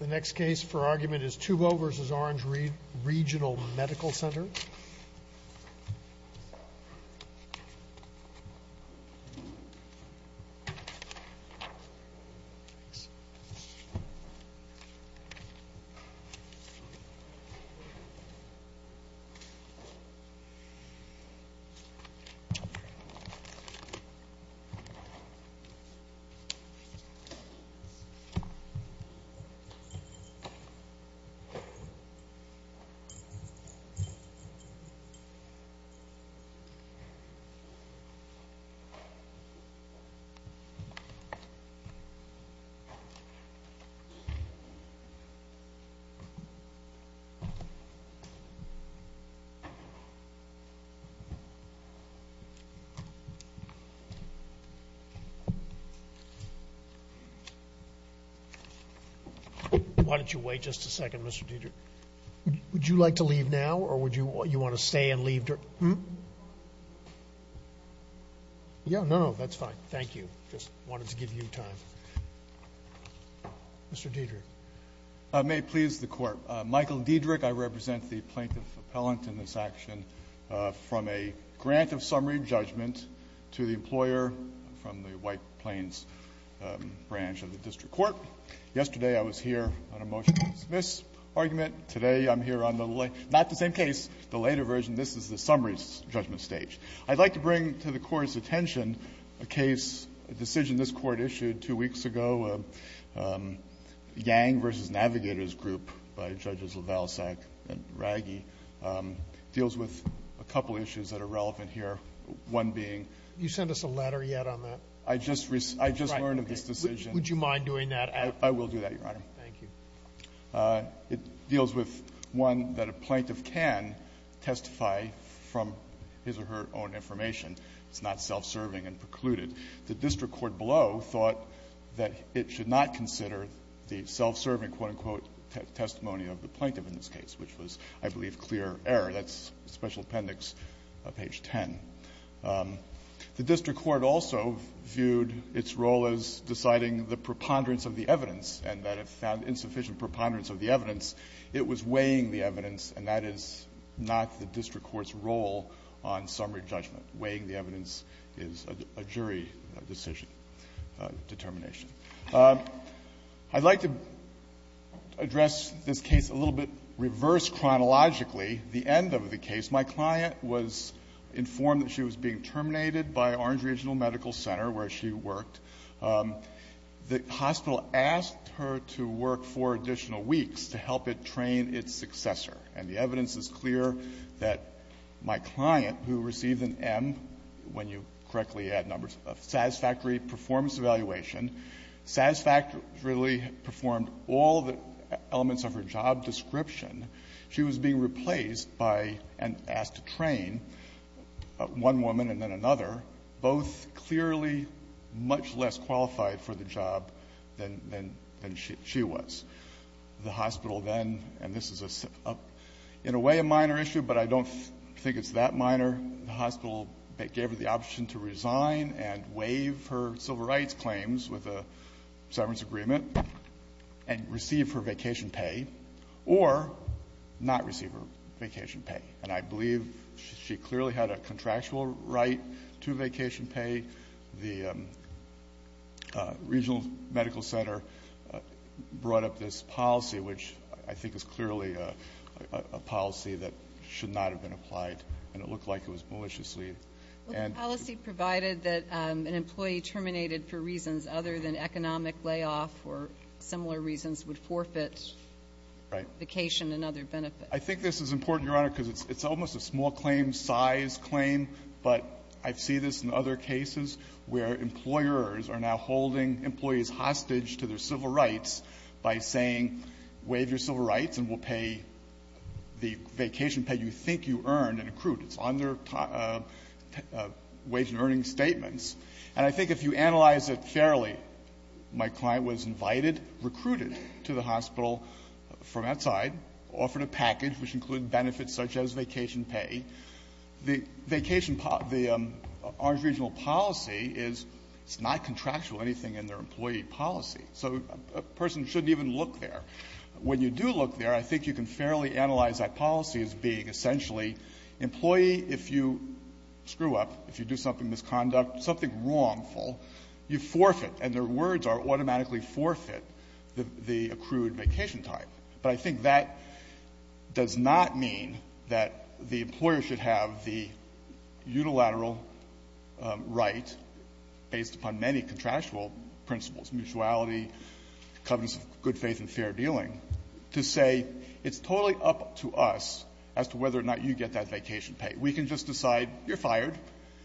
The next case for argument is Tuvo v. Orange Regional Medical Center. Tuvo v. Orange Regional Medical Center Why don't you wait just a second, Mr. Diederich? Would you like to leave now, or would you want to stay and leave during the hearing? No, no, that's fine. Thank you. I just wanted to give you time. Mr. Diederich. I may please the Court. Michael Diederich, I represent the plaintiff appellant in this action. From a grant of summary judgment to the employer from the White Plains branch of the district court. Yesterday I was here on a motion to dismiss argument. Today I'm here on the late — not the same case, the later version. This is the summary judgment stage. I'd like to bring to the Court's attention a case, a decision this Court issued two weeks ago, Yang v. Navigators Group by Judges Lavalsack and Raggi. It deals with a couple issues that are relevant here, one being — Did you send us a letter yet on that? I just learned of this decision. Would you mind doing that after? I will do that, Your Honor. Thank you. It deals with one that a plaintiff can testify from his or her own information. It's not self-serving and precluded. The district court below thought that it should not consider the self-serving, quote, unquote, testimony of the plaintiff in this case, which was, I believe, clear error. That's Special Appendix page 10. The district court also viewed its role as deciding the preponderance of the evidence and that it found insufficient preponderance of the evidence. It was weighing the evidence, and that is not the district court's role on summary judgment. Weighing the evidence is a jury decision, determination. I'd like to address this case a little bit reverse chronologically, the end of the case. My client was informed that she was being terminated by Orange Regional Medical Center where she worked. The hospital asked her to work four additional weeks to help it train its successor, and the evidence is clear that my client, who received an M, when you correctly add numbers, a satisfactory performance evaluation, satisfactorily performed all the elements of her job description, she was being replaced by and asked to train one woman and then another, both clearly much less qualified for the job than she was. The hospital then, and this is in a way a minor issue, but I don't think it's that minor, the hospital gave her the option to resign and waive her civil rights claims with a severance agreement and receive her vacation pay or not receive her vacation pay, and I believe she clearly had a contractual right to vacation pay. The regional medical center brought up this policy, which I think is clearly a policy that should not have been applied, and it looked like it was maliciously and the policy provided that an employee terminated for reasons other than economic layoff or similar reasons would forfeit vacation and other benefits. I think this is important, Your Honor, because it's almost a small claim size claim, but I see this in other cases where employers are now holding employees hostage to their civil rights by saying, waive your civil rights and we'll pay the vacation pay you think you earned and accrued. It's on their wage and earning statements. And I think if you analyze it fairly, my client was invited, recruited to the hospital from outside, offered a package which included benefits such as vacation pay. The vacation policy, the Orange Regional policy, is it's not contractual, anything in their employee policy. So a person shouldn't even look there. When you do look there, I think you can fairly analyze that policy as being essentially employee, if you screw up, if you do something, misconduct, something wrongful, you forfeit. And their words are automatically forfeit, the accrued vacation time. But I think that does not mean that the employer should have the unilateral right, based upon many contractual principles, mutuality, covenants of good faith and fair dealing, to say it's totally up to us as to whether or not you get that vacation pay. We can just decide you're fired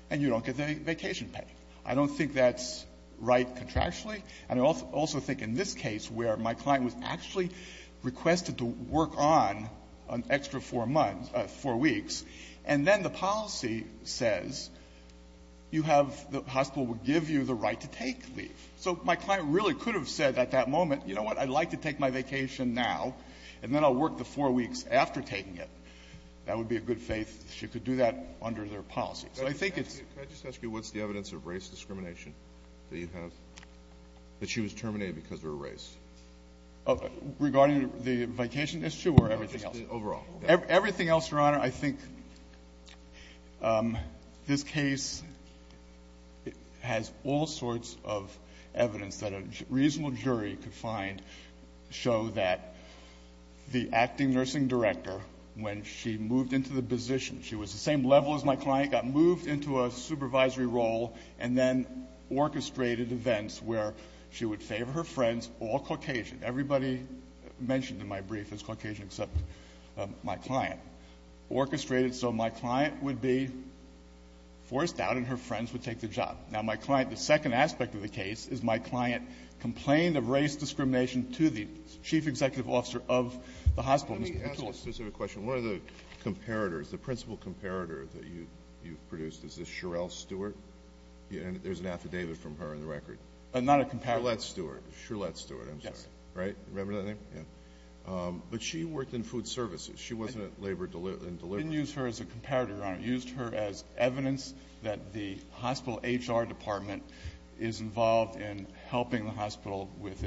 and you don't get the vacation pay. I don't think that's right contractually. And I also think in this case where my client was actually requested to work on an extra four months, four weeks, and then the policy says you have the hospital will give you the right to take leave. So my client really could have said at that moment, you know what, I'd like to take my vacation now, and then I'll work the four weeks after taking it. That would be a good faith. She could do that under their policy. So I think it's the case. But she was terminated because of her race. Regarding the vacation issue or everything else? Everything else, Your Honor, I think this case has all sorts of evidence that a reasonable jury could find show that the acting nursing director, when she moved into the position She was the same level as my client, got moved into a supervisory role, and then orchestrated events where she would favor her friends, all Caucasian. Everybody mentioned in my brief is Caucasian except my client. Orchestrated, so my client would be forced out and her friends would take the job. Now, my client, the second aspect of the case is my client complained of race discrimination to the chief executive officer of the hospital, Mr. McCullough. I have a specific question. One of the comparators, the principal comparator that you've produced, is this Sherelle Stewart? There's an affidavit from her in the record. Not a comparator. Sherlette Stewart. Sherlette Stewart, I'm sorry. Yes. Right? Remember that name? Yeah. But she worked in food services. She wasn't at labor and delivery. I didn't use her as a comparator, Your Honor. I used her as evidence that the hospital HR department is involved in helping the hospital with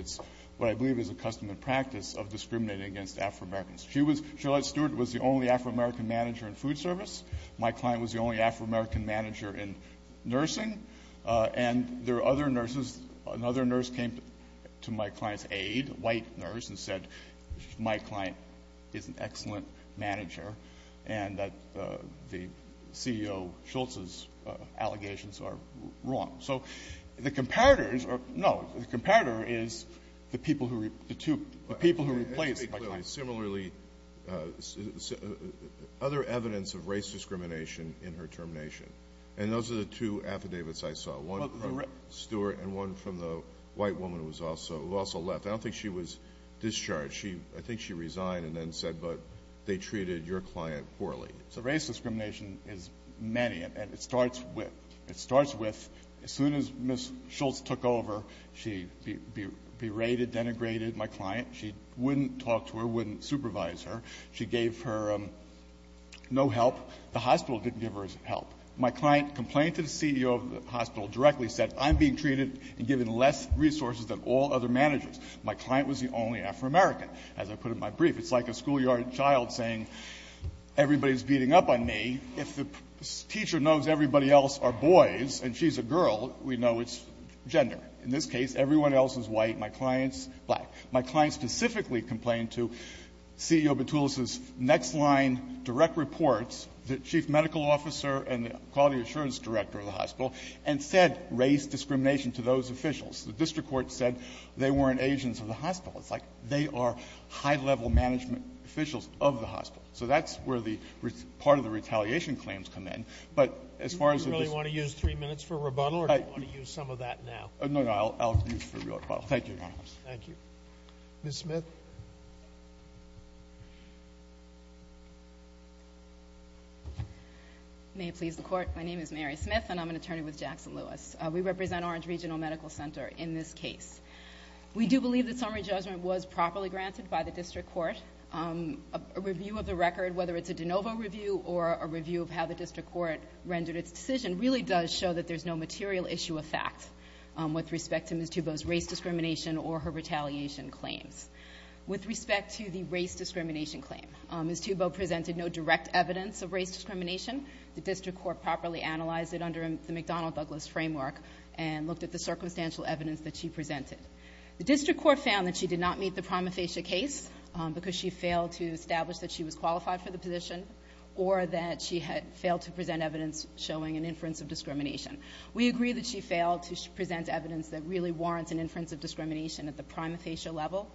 what I believe is a custom and practice of discriminating against Afro-Americans. She was — Sherlette Stewart was the only Afro-American manager in food service. My client was the only Afro-American manager in nursing. And there are other nurses. Another nurse came to my client's aide, a white nurse, and said my client is an excellent manager and that the CEO Schultz's allegations are wrong. So the comparators are — no, the comparator is the people who — the two — the people who replaced my client. And there are similarly other evidence of race discrimination in her termination. And those are the two affidavits I saw, one from Stewart and one from the white woman who was also left. I don't think she was discharged. I think she resigned and then said, but they treated your client poorly. So race discrimination is many, and it starts with — it starts with as soon as Ms. Schultz took over, she berated, denigrated my client. She wouldn't talk to her, wouldn't supervise her. She gave her no help. The hospital didn't give her help. My client complained to the CEO of the hospital directly, said, I'm being treated and given less resources than all other managers. My client was the only Afro-American, as I put in my brief. It's like a schoolyard child saying, everybody's beating up on me. If the teacher knows everybody else are boys and she's a girl, we know it's gender. In this case, everyone else is white. My client's black. My client specifically complained to CEO Boutoulos's next-line direct reports, the chief medical officer and the quality assurance director of the hospital, and said race discrimination to those officials. The district court said they weren't agents of the hospital. It's like they are high-level management officials of the hospital. So that's where the part of the retaliation claims come in. management officials of the hospital. No, no. I'll use the real title. Thank you, Your Honor. Thank you. Ms. Smith? May it please the Court. My name is Mary Smith, and I'm an attorney with Jackson Lewis. We represent Orange Regional Medical Center in this case. We do believe that summary judgment was properly granted by the district court. A review of the record, whether it's a de novo review or a review of how the district court rendered its decision, really does show that there's no material issue of fact with respect to Ms. Tubow's race discrimination or her retaliation claims. With respect to the race discrimination claim, Ms. Tubow presented no direct evidence of race discrimination. The district court properly analyzed it under the McDonnell-Douglas framework and looked at the circumstantial evidence that she presented. The district court found that she did not meet the prima facie case because she failed to establish that she was qualified for the position or that she had failed to present evidence showing an inference of discrimination. We agree that she failed to present evidence that really warrants an inference of discrimination at the prima facie level.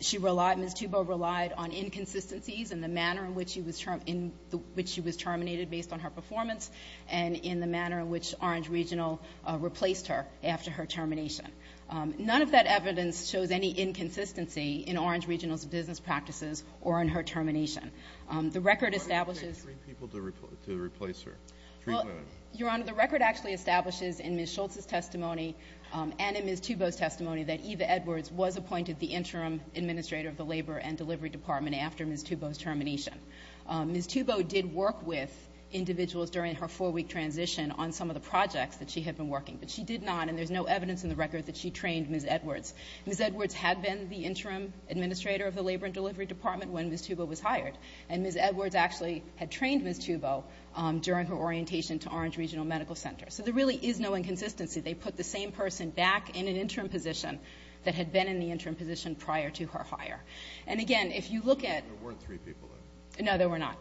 She relied, Ms. Tubow relied on inconsistencies in the manner in which she was terminated based on her performance and in the manner in which Orange Regional replaced her after her termination. None of that evidence shows any inconsistency in Orange Regional's business practices or in her termination. The record establishes Why did you take three people to replace her? Well, Your Honor, the record actually establishes in Ms. Schultz's testimony and in Ms. Tubow's testimony that Eva Edwards was appointed the interim administrator of the Labor and Delivery Department after Ms. Tubow's termination. Ms. Tubow did work with individuals during her four-week transition on some of the projects that she had been working, but she did not, and there's no evidence in the record that she trained Ms. Edwards. Ms. Edwards had been the interim administrator of the Labor and Delivery Department when Ms. Tubow was hired, and Ms. Edwards actually had trained Ms. Tubow during her orientation to Orange Regional Medical Center. So there really is no inconsistency. They put the same person back in an interim position that had been in the interim position prior to her hire. And again, if you look at There weren't three people there. No, there were not.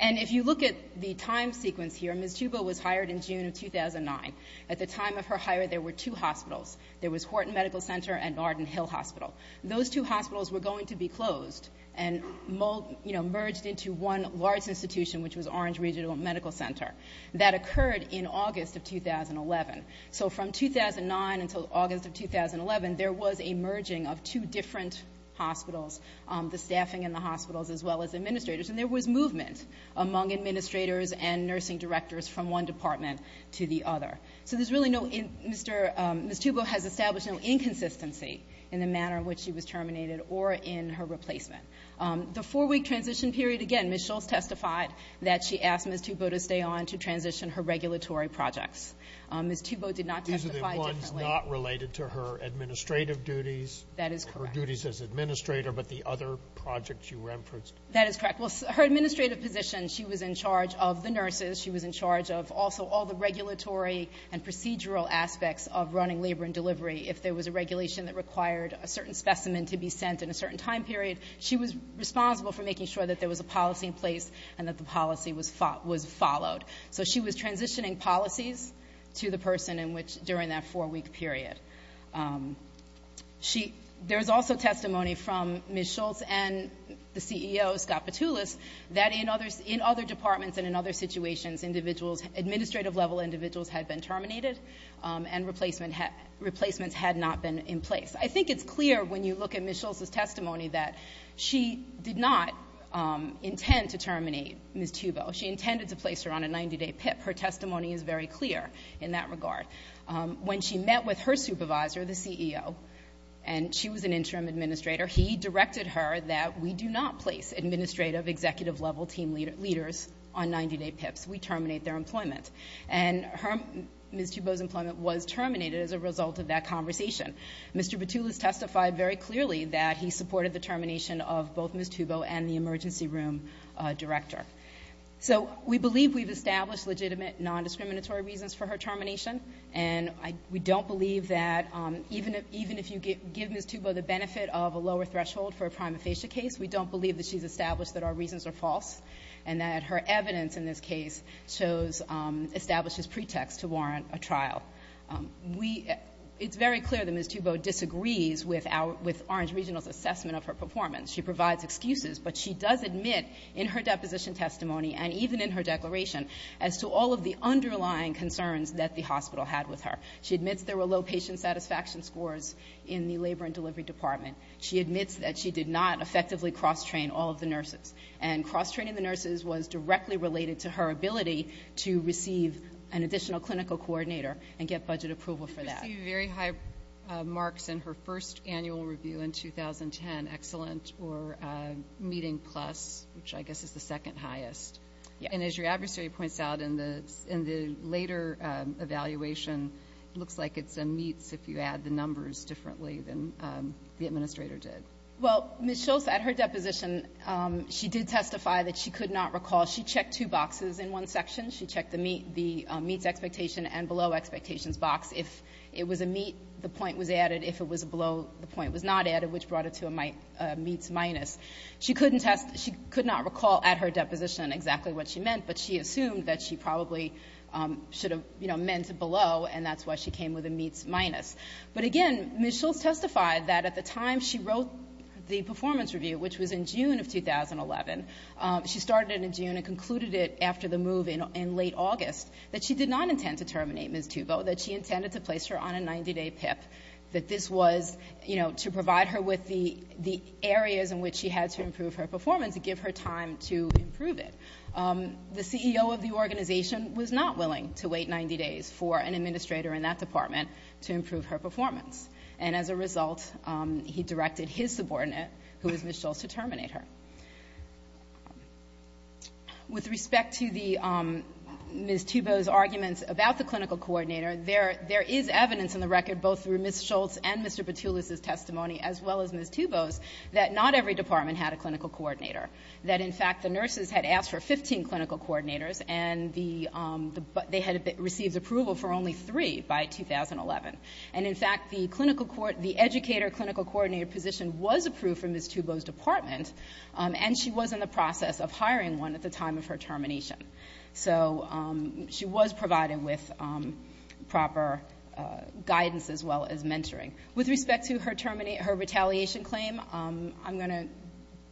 And if you look at the time sequence here, Ms. Tubow was hired in June of 2009. At the time of her hire, there were two hospitals. There was Horton Medical Center and Arden Hill Hospital. Those two hospitals were going to be closed and merged into one large institution, which was Orange Regional Medical Center. That occurred in August of 2011. So from 2009 until August of 2011, there was a merging of two different hospitals, the staffing in the hospitals as well as administrators, and there was movement among administrators and nursing directors from one department to the other. So there's really no Ms. Tubow has established no inconsistency in the manner in which she was terminated or in her replacement. The four-week transition period, again, Ms. Schultz testified that she asked Ms. Tubow to stay on to transition her regulatory projects. Ms. Tubow did not testify differently. These are the ones not related to her administrative duties. That is correct. Her duties as administrator, but the other projects you referenced. That is correct. Well, her administrative position, she was in charge of the nurses. She was in charge of also all the regulatory and procedural aspects of running labor and delivery if there was a regulation that required a certain specimen to be sent in a certain time period. She was responsible for making sure that there was a policy in place and that the policy was followed. So she was transitioning policies to the person during that four-week period. There's also testimony from Ms. Schultz and the CEO, Scott Petoulas, that in other departments and in other situations, administrative-level individuals had been terminated and replacements had not been in place. I think it's clear when you look at Ms. Schultz's testimony that she did not intend to terminate Ms. Tubow. She intended to place her on a 90-day PIP. Her testimony is very clear in that regard. When she met with her supervisor, the CEO, and she was an interim administrator, he directed her that we do not place administrative, executive-level team leaders on 90-day PIPs. We terminate their employment. And Ms. Tubow's employment was terminated as a result of that conversation. Mr. Petoulas testified very clearly that he supported the termination of both Ms. Tubow and the emergency room director. So we believe we've established legitimate, nondiscriminatory reasons for her termination. And we don't believe that even if you give Ms. Tubow the benefit of a lower threshold for a prima facie case, we don't believe that she's established that our reasons are false and that her evidence in this case shows – establishes pretext to warrant a trial. We – it's very clear that Ms. Tubow disagrees with our – with Orange Regional's assessment of her performance. She provides excuses. But she does admit in her deposition testimony and even in her declaration as to all of the underlying concerns that the hospital had with her. She admits there were low patient satisfaction scores in the labor and delivery department. She admits that she did not effectively cross-train all of the nurses. And cross-training the nurses was directly related to her ability to receive an additional clinical coordinator and get budget approval for that. You received very high marks in her first annual review in 2010, excellent or meeting plus, which I guess is the second highest. Yeah. And as your adversary points out in the later evaluation, it looks like it's a meets if you add the numbers differently than the administrator did. Well, Ms. Schultz, at her deposition, she did testify that she could not recall. She checked two boxes in one section. She checked the meets expectation and below expectations box. If it was a meet, the point was added. If it was below, the point was not added, which brought it to a meets minus. She couldn't test – she could not recall at her deposition exactly what she meant. But she assumed that she probably should have, you know, meant below. And that's why she came with a meets minus. But again, Ms. Schultz testified that at the time she wrote the performance review, which was in June of 2011. She started it in June and concluded it after the move in late August, that she did not intend to terminate Ms. Tubo, that she intended to place her on a 90-day PIP, that this was, you know, to provide her with the areas in which she had to improve her performance and give her time to improve it. The CEO of the organization was not willing to wait 90 days for an administrator in that department to improve her performance. And as a result, he directed his subordinate, who was Ms. Schultz, to terminate her. With respect to the – Ms. Tubo's arguments about the clinical coordinator, there is evidence in the record, both through Ms. Schultz and Mr. Petulis's testimony, as well as Ms. Tubo's, that not every department had a clinical coordinator, that in fact the nurses had asked for 15 clinical coordinators, and they had received approval for only three by 2011. And in fact, the clinical – the educator clinical coordinator position was approved from Ms. Tubo's department, and she was in the process of hiring one at the time of her termination. So she was provided with proper guidance, as well as mentoring. With respect to her retaliation claim, I'm going to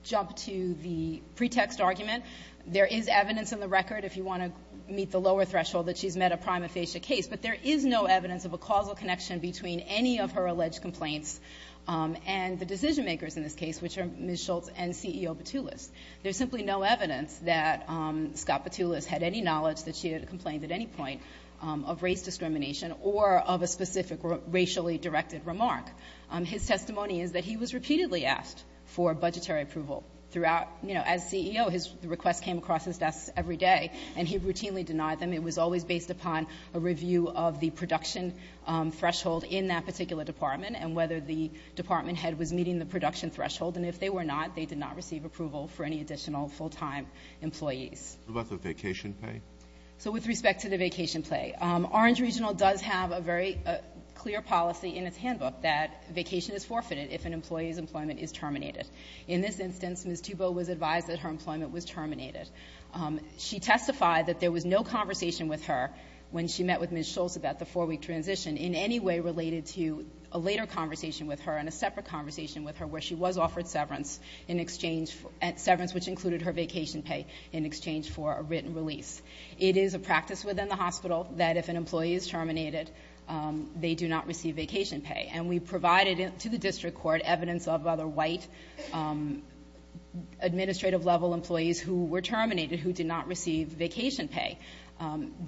jump to the pretext argument. There is evidence in the record, if you want to meet the lower threshold, that she's met a prima facie case. But there is no evidence of a causal connection between any of her alleged complaints and the decision-makers in this case, which are Ms. Schultz and CEO Petulis. There's simply no evidence that Scott Petulis had any knowledge that she had complained at any point of race discrimination or of a specific racially directed remark. His testimony is that he was repeatedly asked for budgetary approval throughout – you know, as CEO, his requests came across his desk every day, and he routinely denied them. It was always based upon a review of the production threshold in that particular department and whether the department head was meeting the production threshold. And if they were not, they did not receive approval for any additional full-time employees. What about the vacation pay? So with respect to the vacation pay, Orange Regional does have a very clear policy in its handbook that vacation is forfeited if an employee's employment is terminated. In this instance, Ms. Tubo was advised that her employment was terminated. She testified that there was no conversation with her when she met with Ms. Schultz about the four-week transition in any way related to a later conversation with her and a separate conversation with her where she was offered severance in exchange – severance which included her vacation pay in exchange for a written release. It is a practice within the hospital that if an employee is terminated, they do not receive vacation pay. And we provided to the district court evidence of other white administrative level employees who were terminated who did not receive vacation pay.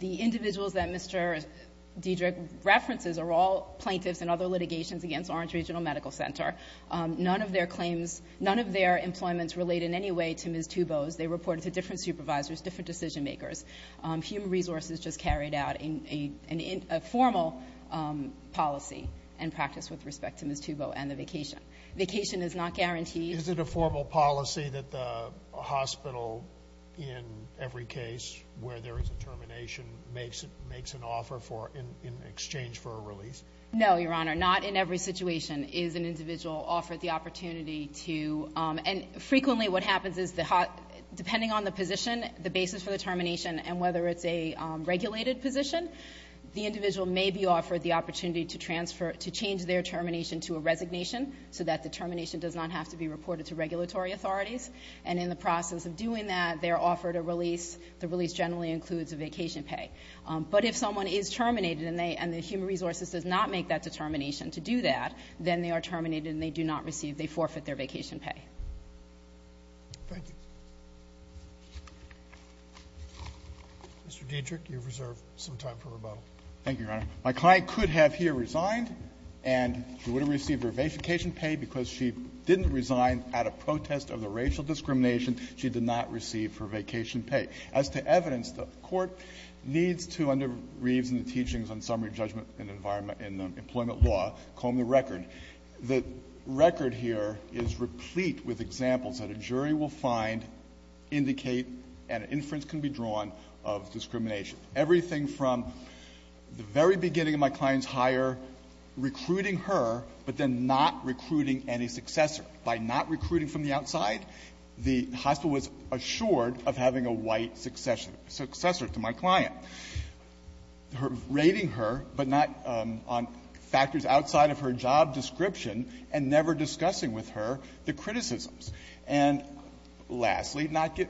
The individuals that Mr. Diederich references are all plaintiffs in other litigations against Orange Regional Medical Center. None of their claims – none of their employments relate in any way to Ms. Tubo's. They reported to different supervisors, different decision makers. Human Resources just carried out a formal policy and practice with respect to Ms. Tubo and the vacation. Vacation is not guaranteed. Is it a formal policy that the hospital in every case where there is a termination makes an offer for – in exchange for a release? No, Your Honor. Not in every situation is an individual offered the opportunity to – and frequently what happens is depending on the position, the basis for the termination, and whether it's a regulated position, the individual may be offered the opportunity to transfer – to change their termination to a resignation so that the termination does not have to be reported to regulatory authorities. And in the process of doing that, they are offered a release. The release generally includes a vacation pay. But if someone is terminated and they – and the Human Resources does not make that determination to do that, then they are terminated and they do not receive – they forfeit their vacation pay. Thank you. Mr. Diederich, you have reserved some time for rebuttal. Thank you, Your Honor. My client could have here resigned and she would have received her vacation pay because she didn't resign out of protest of the racial discrimination. She did not receive her vacation pay. As to evidence, the Court needs to, under Reeves and the Teachings on Summary Judgment and Employment Law, comb the record. The record here is replete with examples that a jury will find indicate and an inference can be drawn of discrimination. Everything from the very beginning of my client's hire, recruiting her, but then not recruiting any successor. By not recruiting from the outside, the hospital was assured of having a white successor to my client. Rating her, but not on factors outside of her job description, and never discussing with her the criticisms. And lastly, not –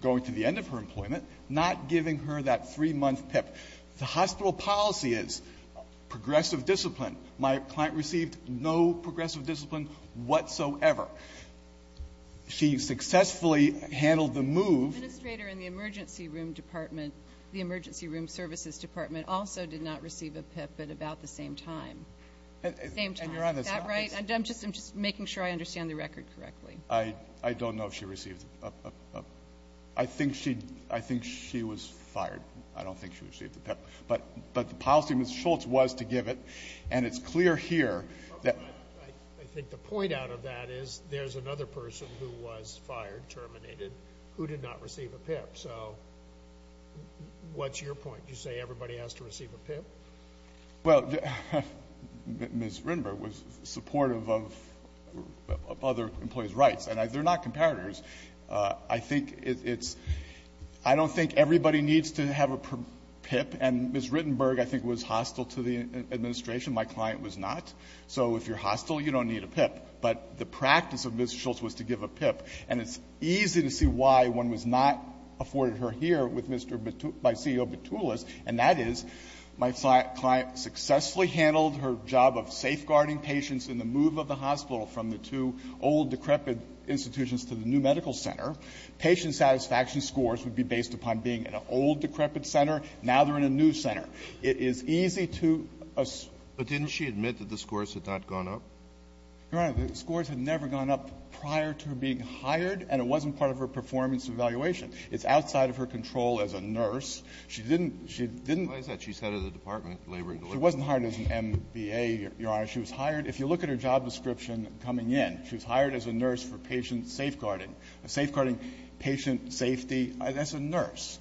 going to the end of her employment, not giving her that three-month PIP. The hospital policy is progressive discipline. My client received no progressive discipline whatsoever. She successfully handled the move. The administrator in the emergency room department, the emergency room services department, also did not receive a PIP at about the same time. Same time. And you're on the side. Is that right? I'm just making sure I understand the record correctly. I don't know if she received it. I think she was fired. I don't think she received the PIP. But the policy Ms. Schultz was to give it, and it's clear here. I think the point out of that is there's another person who was fired, terminated, who did not receive a PIP. So what's your point? You say everybody has to receive a PIP? Well, Ms. Rindberg was supportive of other employees' rights. And they're not comparators. I think it's – I don't think everybody needs to have a PIP. And Ms. Rindberg, I think, was hostile to the administration. My client was not. So if you're hostile, you don't need a PIP. But the practice of Ms. Schultz was to give a PIP. And it's easy to see why one was not afforded her here with Mr. – by CEO Boutoulos. And that is my client successfully handled her job of safeguarding patients in the hospital from the two old, decrepit institutions to the new medical center. Patient satisfaction scores would be based upon being in an old, decrepit center. Now they're in a new center. It is easy to – But didn't she admit that the scores had not gone up? Your Honor, the scores had never gone up prior to her being hired, and it wasn't part of her performance evaluation. It's outside of her control as a nurse. She didn't – she didn't – Why is that? She's head of the Department of Labor and Delivery. She wasn't hired as an MBA, Your Honor. She was hired – If you look at her job description coming in, she was hired as a nurse for patient safeguarding, safeguarding patient safety as a nurse.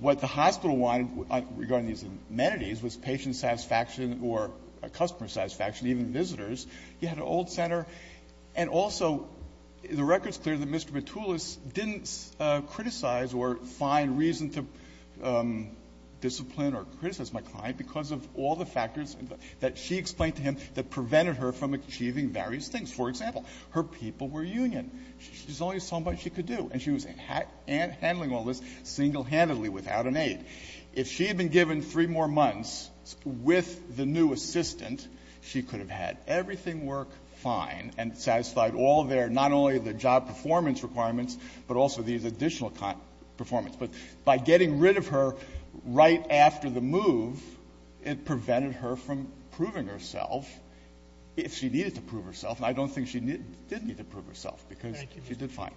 What the hospital wanted regarding these amenities was patient satisfaction or customer satisfaction, even visitors. You had an old center. And also, the record's clear that Mr. Boutoulos didn't criticize or find reason to discipline or criticize my client because of all the factors that she explained to him that prevented her from achieving various things. For example, her people were union. There's only so much she could do. And she was handling all this single-handedly without an aide. If she had been given three more months with the new assistant, she could have had everything work fine and satisfied all their – not only the job performance requirements, but also these additional performance. But by getting rid of her right after the move, it prevented her from proving herself if she needed to prove herself. And I don't think she did need to prove herself because she did fine.